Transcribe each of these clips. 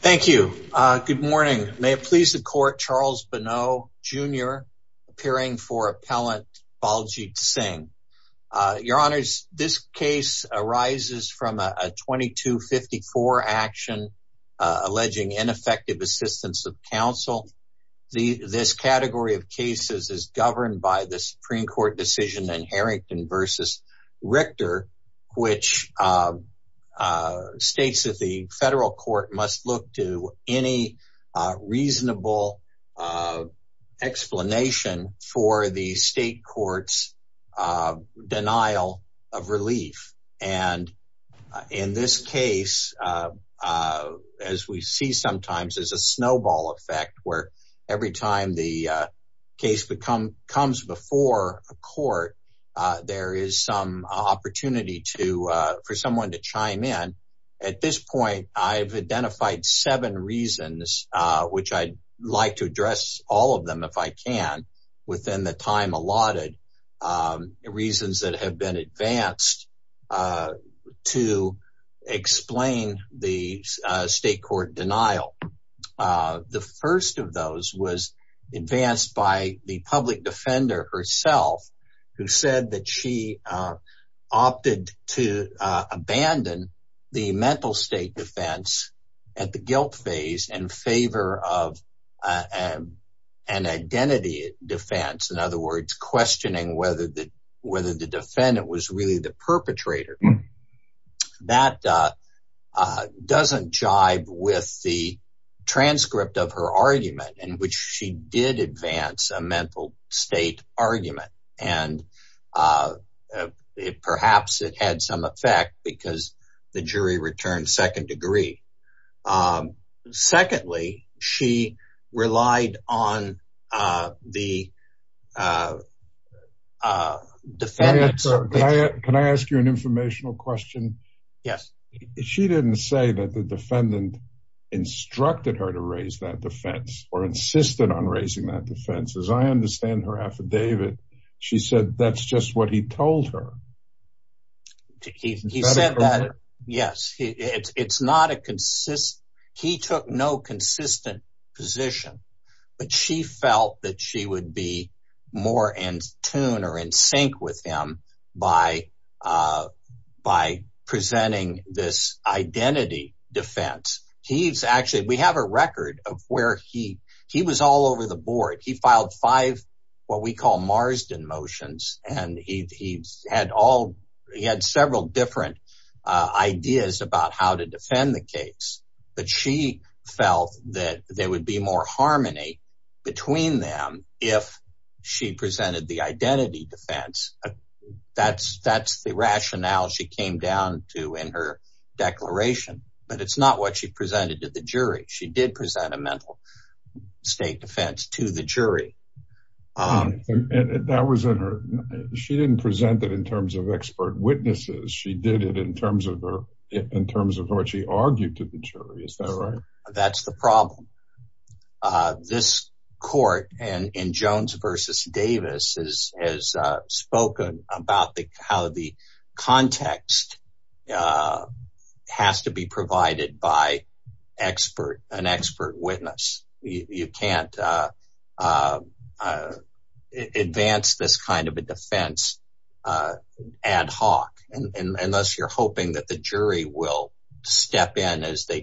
Thank you. Good morning. May it please the court Charles Bonneau Jr. appearing for appellant Baljit Singh. Your Honours, this case arises from a 2254 action alleging ineffective assistance of counsel. This category of cases is governed by the Supreme Court decision in Harrington v. Richter which states that the federal court must look to any reasonable explanation for the state court's denial of relief. And in this case, as we see sometimes as a snowball effect where every time the case becomes comes before a court, there is some opportunity to for someone to chime in. At this point, I've identified seven reasons, which I'd like to address all of them if I can, within the time allotted, reasons that have been advanced to explain the state court denial. The first of those was advanced by the public defender herself, who said that she opted to abandon the mental state defense at the guilt phase in favor of an identity defense. In other words, questioning whether the defendant was really the perpetrator. That doesn't jive with the transcript of her argument in which she did advance a mental state argument. And perhaps it had some effect because the jury returned second degree. Secondly, she relied on the defendants. Can I ask you an informational question? Yes. She didn't say that the defendant instructed her to raise that defense or insisted on raising that defense. As I understand her affidavit, she said that's just what he told her. He said that, yes, it's not a consistent, he took no consistent position, but she felt that she would be more in tune or in sync with him by by presenting this identity defense. He's actually, we have a record of where he, he was all over the board. He filed five, what we call Marsden motions, and he had all, he had several different ideas about how to defend the case. But she felt that there would be more harmony between them if she presented the rationale she came down to in her declaration. But it's not what she presented to the jury. She did present a mental state defense to the jury. That was in her. She didn't present that in terms of expert witnesses. She did it in terms of her in terms of what she argued to the jury. Is that right? That's the problem. This court and in Jones versus Davis is has spoken about how the context has to be provided by an expert witness. You can't advance this kind of a defense ad hoc unless you're hoping that the jury will step in as they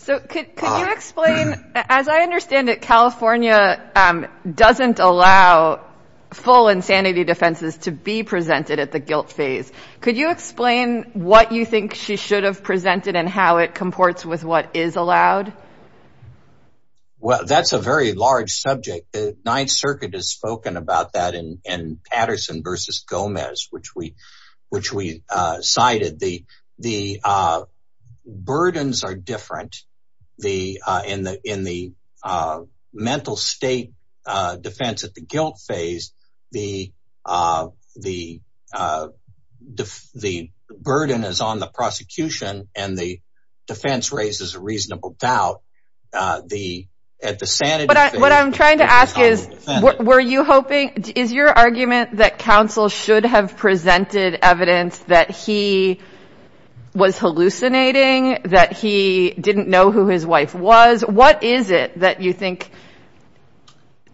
So could you explain, as I understand it, California doesn't allow full insanity defenses to be presented at the guilt phase. Could you explain what you think she should have presented and how it comports with what is allowed? Well, that's a very large subject. The Ninth Circuit has spoken about that in the in the in the mental state defense at the guilt phase. The the the burden is on the prosecution and the defense raises a reasonable doubt the at the sanity. But what I'm trying to ask is, were you hoping is your argument that counsel should have presented evidence that he was hallucinating, that he didn't know who his wife was? What is it that you think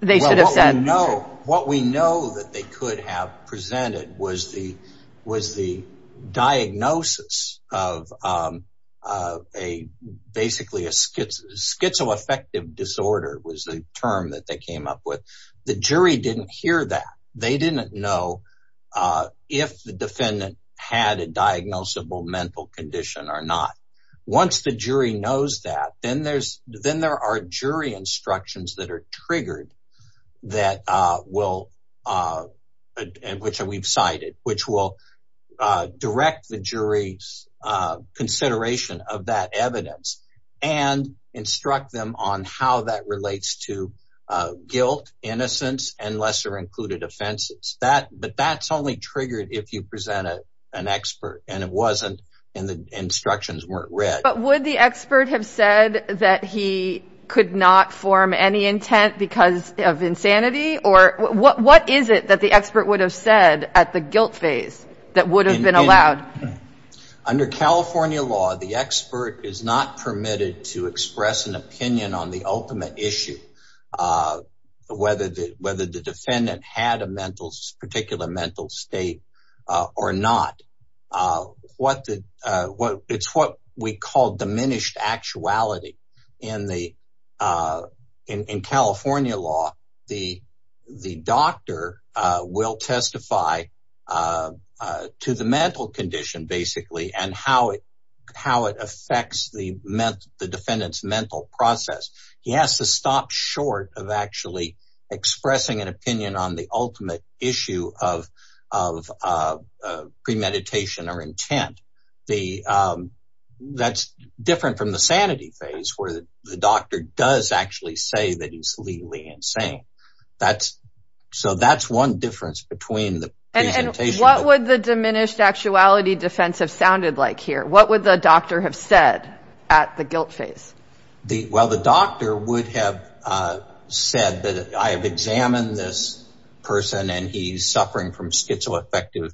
they should have said? No, what we know that they could have presented was the was the diagnosis of a basically a schizo schizoaffective disorder was the term that they came up with. The jury didn't hear that. They didn't know if the defendant had a diagnosable mental condition or not. Once the jury knows that, then there's then there are jury instructions that are triggered that will which we've cited, which will direct the jury's consideration of that lesser included offenses that but that's only triggered if you present an expert and it wasn't in the instructions weren't read. But would the expert have said that he could not form any intent because of insanity? Or what what is it that the expert would have said at the guilt phase that would have been allowed? Under California law, the expert is not permitted to express an opinion on the ultimate issue. Whether the whether the defendant had a mental particular mental state or not. What the what it's what we call diminished actuality. In the in California law, the the doctor will testify to the mental condition basically and how it how it affects the the defendant's mental process. He has to stop short of actually expressing an opinion on the ultimate issue of of premeditation or intent. The that's different from the sanity phase where the doctor does actually say that he's legally insane. That's so that's one difference between the and what would the diminished actuality defense have sounded like here? What would the doctor have said at the guilt phase? The Well, the doctor would have said that I have examined this person and he's suffering from schizoaffective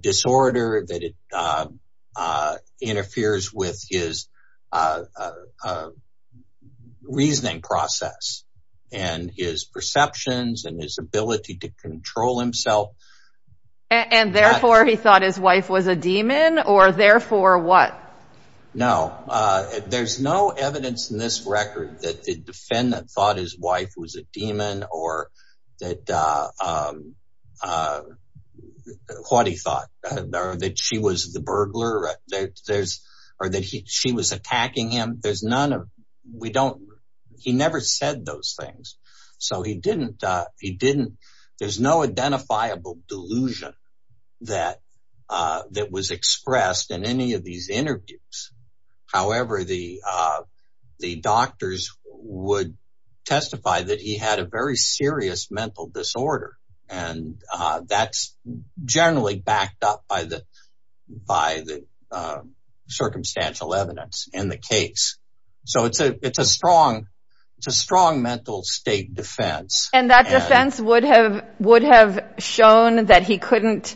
disorder that interferes with his reasoning process, and his perceptions and his ability to control himself. And therefore he thought his wife was a demon or therefore what? No, there's no evidence in this record that the defendant thought his wife was a demon or that what he thought that she was the burglar. There's or that he she was attacking him. There's none of we don't he never said those things. So he didn't. He didn't. There's no identifiable delusion that that was expressed in any of these interviews. However, the the doctors would testify that he had a very serious mental disorder. And that's generally backed up by the by the circumstantial evidence in the case. So it's a it's a strong, it's a strong mental state defense. And that defense would have would have shown that he couldn't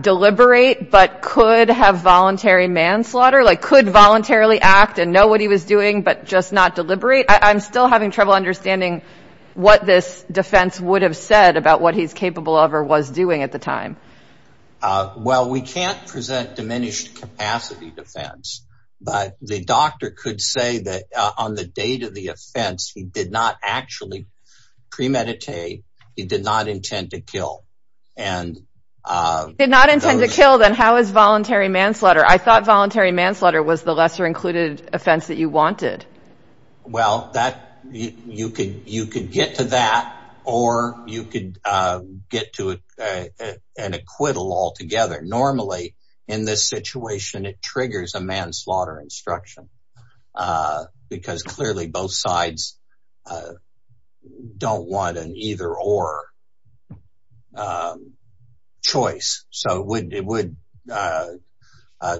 deliberate but could have voluntary manslaughter like could voluntarily act and know what he was doing, but just not deliberate. I'm still having trouble understanding what this defense would have said about what he's capable of or was doing at the time. Well, we can't present diminished capacity defense. But the doctor could say that on the date of the offense, he did not actually premeditate. He did not intend to kill and did not intend to kill then how is voluntary manslaughter I thought voluntary manslaughter was the lesser included offense that you wanted? Well, that you could you could get to that or you could get to an acquittal altogether. Normally, in this situation, it triggers a manslaughter instruction. Because clearly both sides don't want an either or choice. So would it would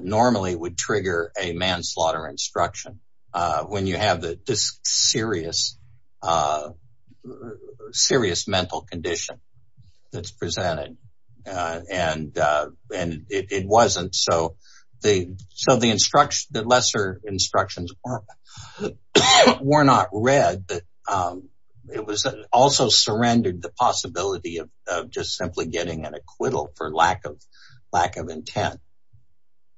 normally would trigger a manslaughter instruction when you have this serious, serious mental condition that's presented. And, and it wasn't so the so the surrendered the possibility of just simply getting an acquittal for lack of lack of intent.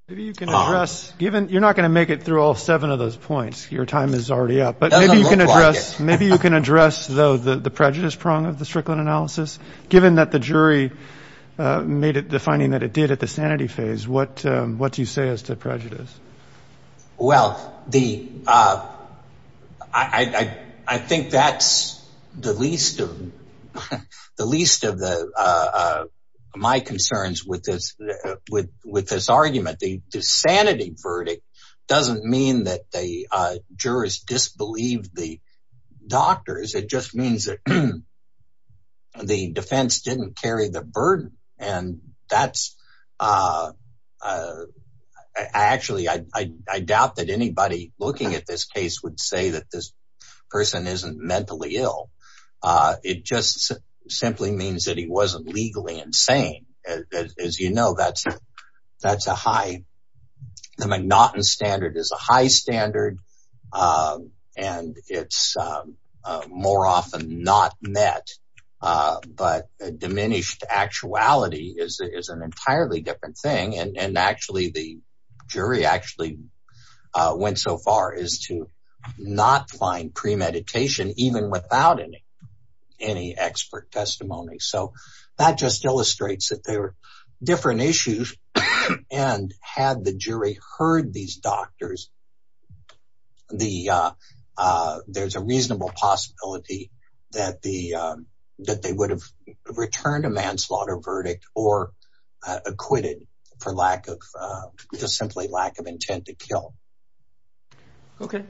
Maybe you can address given you're not going to make it through all seven of those points, your time is already up. But maybe you can address maybe you can address though the the prejudice prong of the Strickland analysis, given that the jury made it the finding that it did at the sanity phase, what what do you say as to prejudice? Well, the I think that's the least of the least of the my concerns with this, with with this argument, the sanity verdict doesn't mean that the jurors disbelieved the doctors, it just means that the defense didn't carry the burden. And that's actually, I doubt that anybody looking at this case would say that this person isn't mentally ill. It just simply means that he wasn't legally insane. As you know, that's, that's a high. The McNaughton standard is a high standard. And it's more often not met. But diminished actuality is an entirely different thing. And actually, the jury actually went so far as to not find premeditation even without any, any expert testimony. So that just illustrates that there are different issues. And had the jury heard these doctors, the there's a reasonable possibility that the that they would have returned a manslaughter verdict or acquitted for lack of just simply lack of intent to kill. Okay,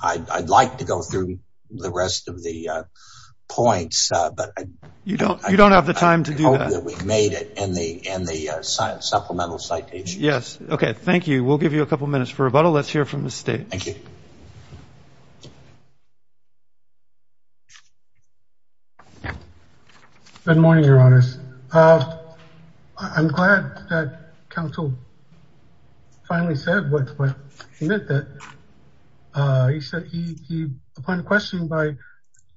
I'd like to go through the rest of the points. But you don't you don't have the time to do that. We've made it in the in the science supplemental citation. Yes. Okay. Thank you. We'll give you a couple minutes for rebuttal. Let's hear from the state. Thank you. Good morning, Your Honors. I'm glad that counsel finally said what he meant that he said he, upon questioning by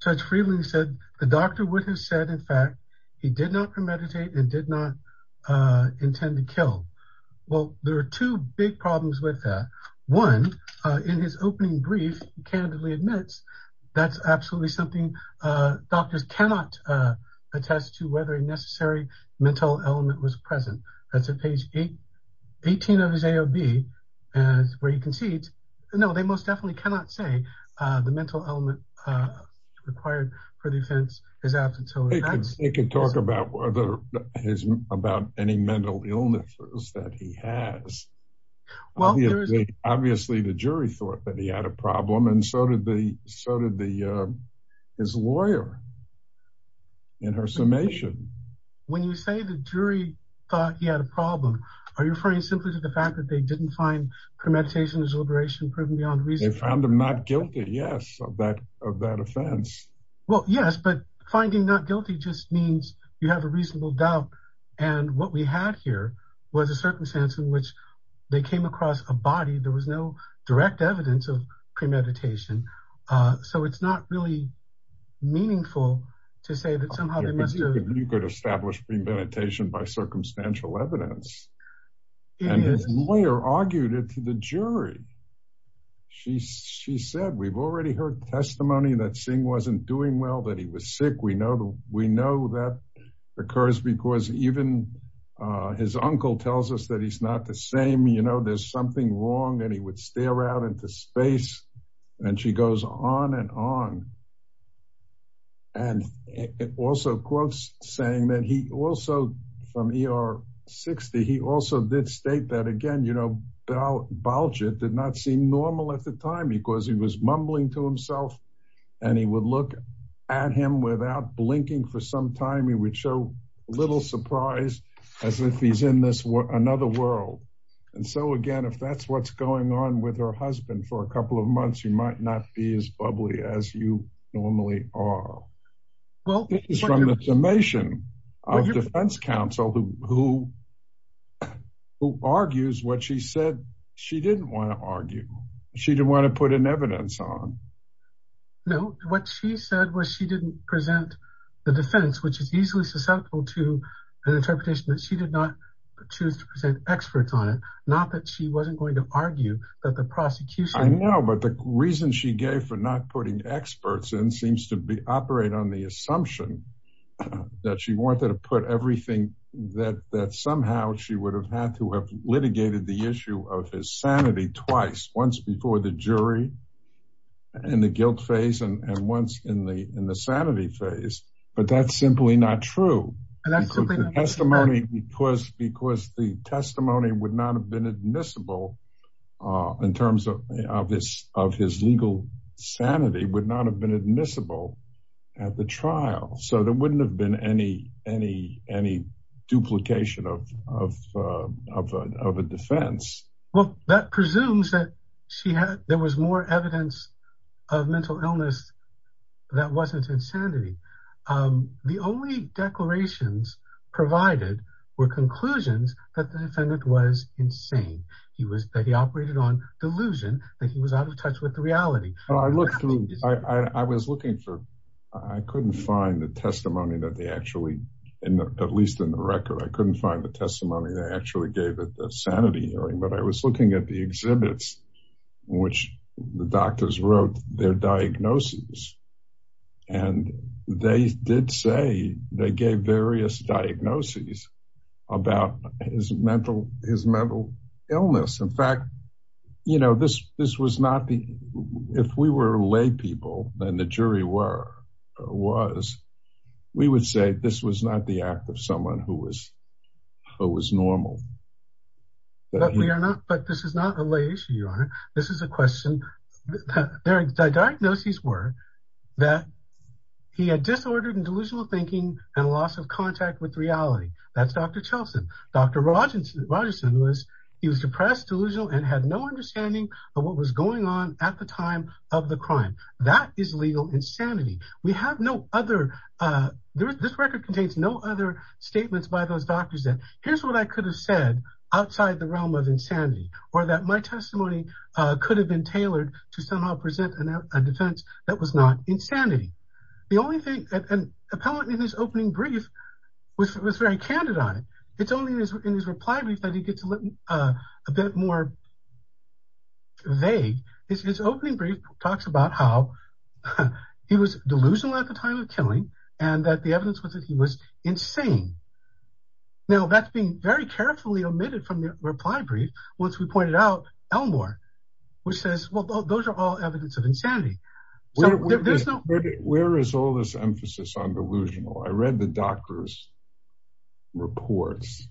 Judge Freeland said the doctor would have said in fact, he did not premeditate and did not intend to kill. Well, there are two big problems with that. One, in his opening brief, he candidly admits, that's absolutely something doctors cannot attest to whether a necessary mental element was present. That's a page eight, 18 of his AOB. And where he concedes, no, they most definitely cannot say the mental element required for defense is absent. They can talk about whether his about any mental illnesses that he has. Well, obviously, the jury thought that he had a problem. And so did the so did the his lawyer. In her summation, when you say the jury thought he had a problem, are you referring simply to the fact that they didn't find premeditation deliberation proven beyond reason found him not guilty? Yes, of that, of that guilty just means you have a reasonable doubt. And what we had here was a circumstance in which they came across a body, there was no direct evidence of premeditation. So it's not really meaningful to say that somehow, you could establish premeditation by circumstantial evidence. His lawyer argued it to the jury. She said, we've already heard testimony that Singh wasn't doing well that he was sick. We know we know that occurs because even his uncle tells us that he's not the same, you know, there's something wrong, and he would stare out into space. And she goes on and on. And it also quotes saying that he also from er 60. He also did state that again, you know, about bulge, it did not seem normal at the time, because he was mumbling to himself. And he would look at him without blinking for some time, he would show little surprise, as if he's in this world, another world. And so again, if that's what's going on with her husband for a couple of months, you might not be as bubbly as you normally are. Well, it is from the summation of defense counsel who who argues what she said, she didn't want to argue, she didn't want to put an evidence on. No, what she said was she didn't present the defense, which is easily susceptible to an interpretation that she did not choose to present experts on it. Not that she wasn't going to argue that the prosecution I know, but the reason she gave for not putting experts in seems to be operate on the assumption that she wanted to put everything that that somehow she would have had to have litigated the issue of his sanity twice once before the jury and the guilt phase and once in the in the sanity phase. But that's simply not true. And that's the testimony because because the testimony would not have been admissible in terms of this of his legal sanity would not have been admissible at the trial. So it wouldn't have been any, any, any duplication of, of, of a defense. Well, that presumes that she had there was more evidence of mental illness. That wasn't insanity. The only declarations provided were conclusions that the defendant was insane. He was that he operated on delusion that he was out of touch with the reality. I looked through, I was looking for, I couldn't find the testimony that they actually, at least in the record, I couldn't find the testimony that actually gave it the sanity hearing, but I was looking at the exhibits, which the doctors wrote their diagnosis. And they did say they gave various diagnoses about his mental, his mental illness. In fact, you know, this, this was not the, if we were lay people, then the jury were, was, we would say this was not the act of someone who was, who was normal. But we are not, but this is not a lay issue, Your Honor. This is a question. Their diagnoses were that he had disordered and delusional thinking and loss of contact with reality. That's Dr. Chelson. Dr. Rogerson was, he was depressed, delusional and had no understanding of what was going on at the time of the crime. That is legal insanity. We have no other, this record contains no other statements by those doctors that here's what I could have said outside the realm of insanity, or that my was not insanity. The only thing, an appellant in his opening brief was very candid on it. It's only in his reply brief that he gets a bit more vague. His opening brief talks about how he was delusional at the time of killing, and that the evidence was that he was insane. Now that's being very carefully omitted from the reply brief, once we pointed out Elmore, which says, well, those are all evidence of insanity. There's no, where is all this emphasis on delusional? I read the doctor's reports.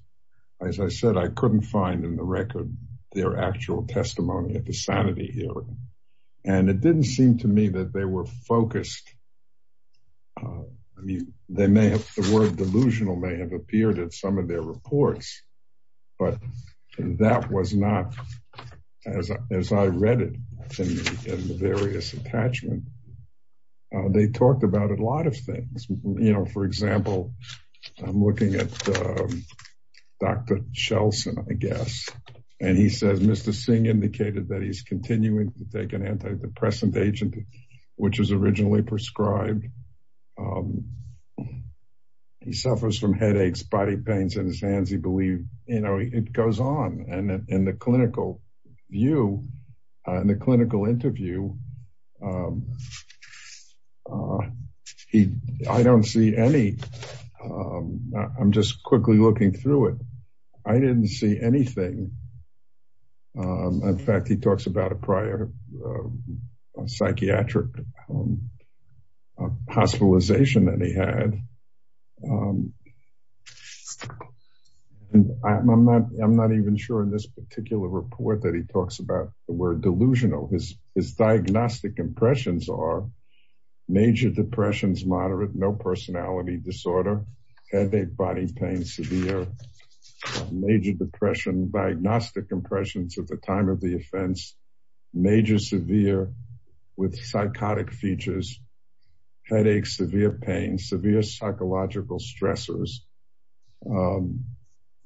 As I said, I couldn't find in the record, their actual testimony at the sanity hearing. And it didn't seem to me that they were focused. They may have the word delusional may have appeared at some of their reports. But that was not, as I read it, in the various attachment. They talked about a lot of things. You know, for example, I'm looking at Dr. Shelson, I guess. And he says, Mr. Singh indicated that he's continuing to take an antidepressant agent, which is originally prescribed. He suffers from headaches, body pains in his hands, he goes on and in the clinical view, and the clinical interview. I don't see any. I'm just quickly looking through it. I didn't see anything. In fact, he talks about a prior psychiatric hospitalization that he had. And I'm not I'm not even sure in this particular report that he talks about the word delusional his his diagnostic impressions are major depressions, moderate, no personality disorder, headache, body pain, severe, major depression, diagnostic impressions at the time of the offense, major, severe, with stressors.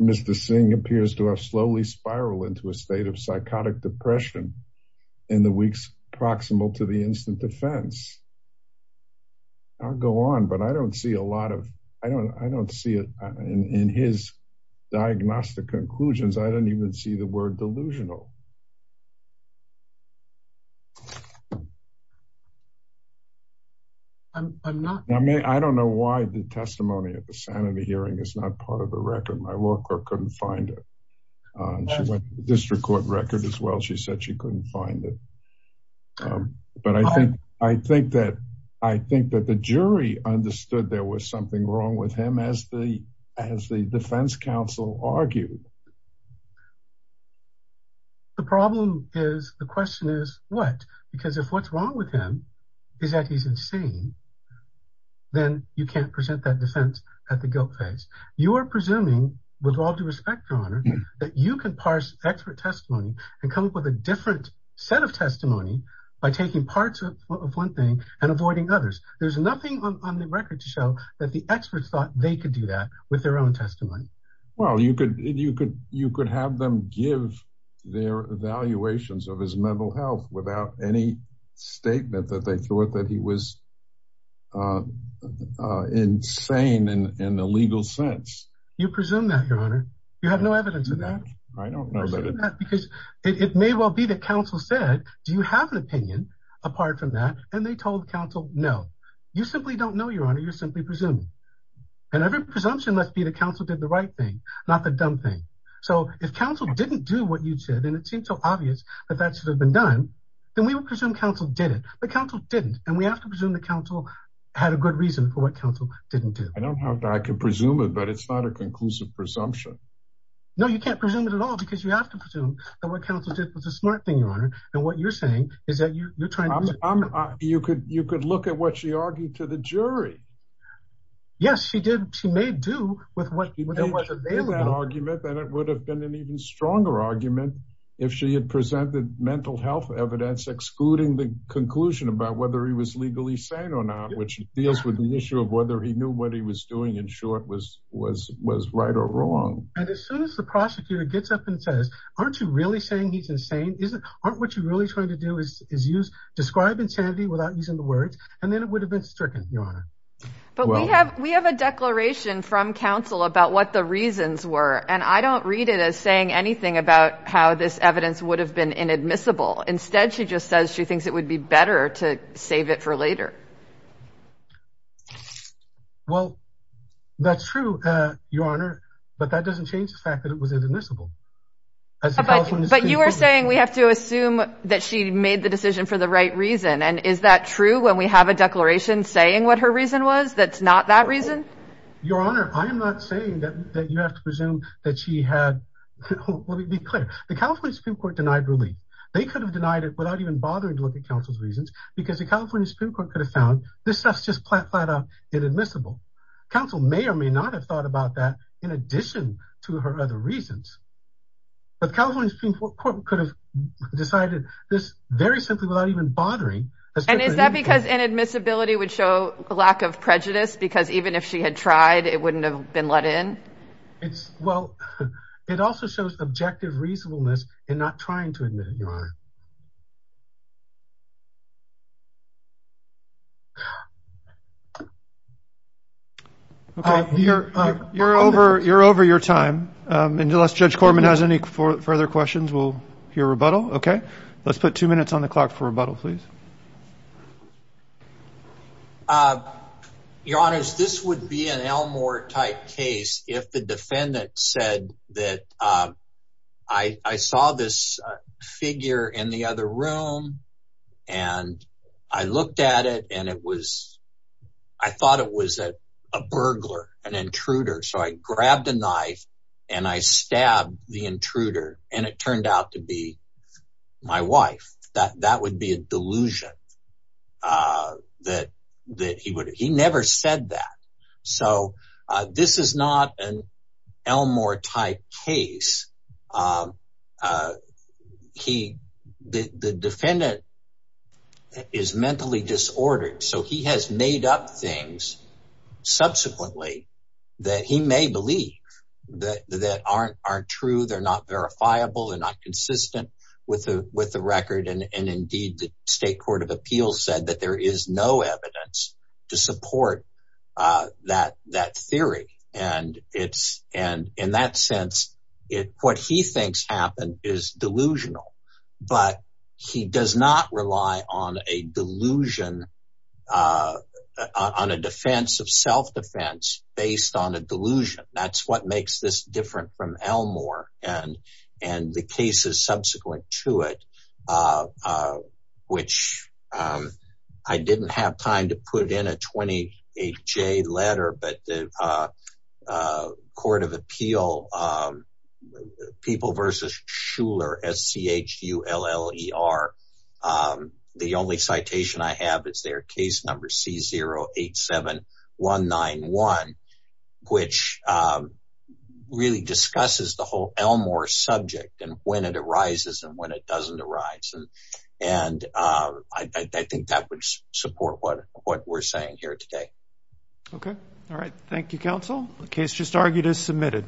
Mr. Singh appears to have slowly spiral into a state of psychotic depression in the weeks proximal to the instant defense. I'll go on but I don't see a lot of I don't I don't see it in his diagnostic conclusions. I sanity hearing is not part of the record. My law clerk couldn't find it. District Court record as well. She said she couldn't find it. But I think I think that I think that the jury understood there was something wrong with him as the as the defense counsel argued. The problem is the question is what, because if what's wrong with him, is that he's insane, then you can't present that defense at the guilt phase. You are presuming with all due respect, your honor, that you can parse expert testimony and come up with a different set of testimony by taking parts of one thing and avoiding others. There's nothing on the record to show that the experts thought they could do that with their own testimony. Well, you could you could you could have them give their evaluations of his mental health without any statement that they thought that he was insane in the legal sense. You presume that your honor, you have no evidence of that. I don't know. Because it may well be that counsel said, Do you have an opinion apart from that? And they told counsel? No, you simply don't know your honor, you're simply presuming. And every presumption must be the counsel did the right thing, not the dumb thing. So if counsel didn't do what you did, and it didn't, and we have to presume the counsel had a good reason for what counsel didn't do. I don't have I can presume it, but it's not a conclusive presumption. No, you can't presume it at all. Because you have to presume that what counsel did was a smart thing, your honor. And what you're saying is that you're trying to you could you could look at what she argued to the jury. Yes, she did. She may do with what argument that it would have been an even stronger argument, if she had presented mental health evidence excluding the conclusion about whether he was legally sane or not, which deals with the issue of whether he knew what he was doing in short was was was right or wrong. And as soon as the prosecutor gets up and says, Aren't you really saying he's insane? Isn't aren't what you're really trying to do is is use describe insanity without using the words, and then it would have been stricken, your honor. But we have we have a declaration from counsel about what the reasons were. And I don't read it as saying anything about how this evidence would have been inadmissible. Instead, she just says she thinks it would be better to save it for later. Well, that's true, your honor. But that doesn't change the fact that it was inadmissible. But you are saying we have to assume that she made the decision for the right reason. And is that true? When we have a declaration saying what her reason was, that's not that reason? Your Honor, I am not saying that you have to presume that she had. Let me be clear, the California Supreme Court denied relief, they could have denied it without even bothering to look at counsel's reasons. Because the California Supreme Court could have found this stuff just flat out inadmissible. Counsel may or may not have thought about that, in addition to her other reasons. But California Supreme Court could have decided this very simply without even bothering. And is that because inadmissibility would show a lack of prejudice? Because even if she had tried, it wouldn't have been let in? It's well, it also shows objective reasonableness in not trying to admit, your honor. You're over, you're over your time. And unless Judge Corman has any further questions, we'll hear rebuttal. Okay, let's put two minutes on the clock for rebuttal, please. Your Honor, this would be an Elmore type case, if the defendant said that I saw this figure in the other room. And I looked at it and it was, I thought it was a burglar, an intruder. So I grabbed a knife, and I stabbed the intruder, and it turned out to be my wife, that that would be a delusion. That that that he would, he never said that. So this is not an Elmore type case. He, the defendant is mentally disordered. So he has made up things subsequently, that he may believe that that aren't aren't true. They're not verifiable and not consistent with the with the record. And indeed, the State Court of Appeals said that there is no evidence to support that that theory. And it's and in that sense, it what he thinks happened is delusional. But he does not rely on a delusion on a defense of self defense based on a delusion. That's what makes this different from Elmore. And, and the cases subsequent to it, which I didn't have time to put in a 28 J letter, but the Court of Appeal, people versus Schuller, S-C-H-U-L-L-E-R. The only citation I have is their case number C-0-8-7-1-9-1, which really discusses the whole Elmore subject and when it arises and when it doesn't arise. And I think that would support what what we're saying here today. Okay. All right. Thank you, counsel. The case just argued is submitted.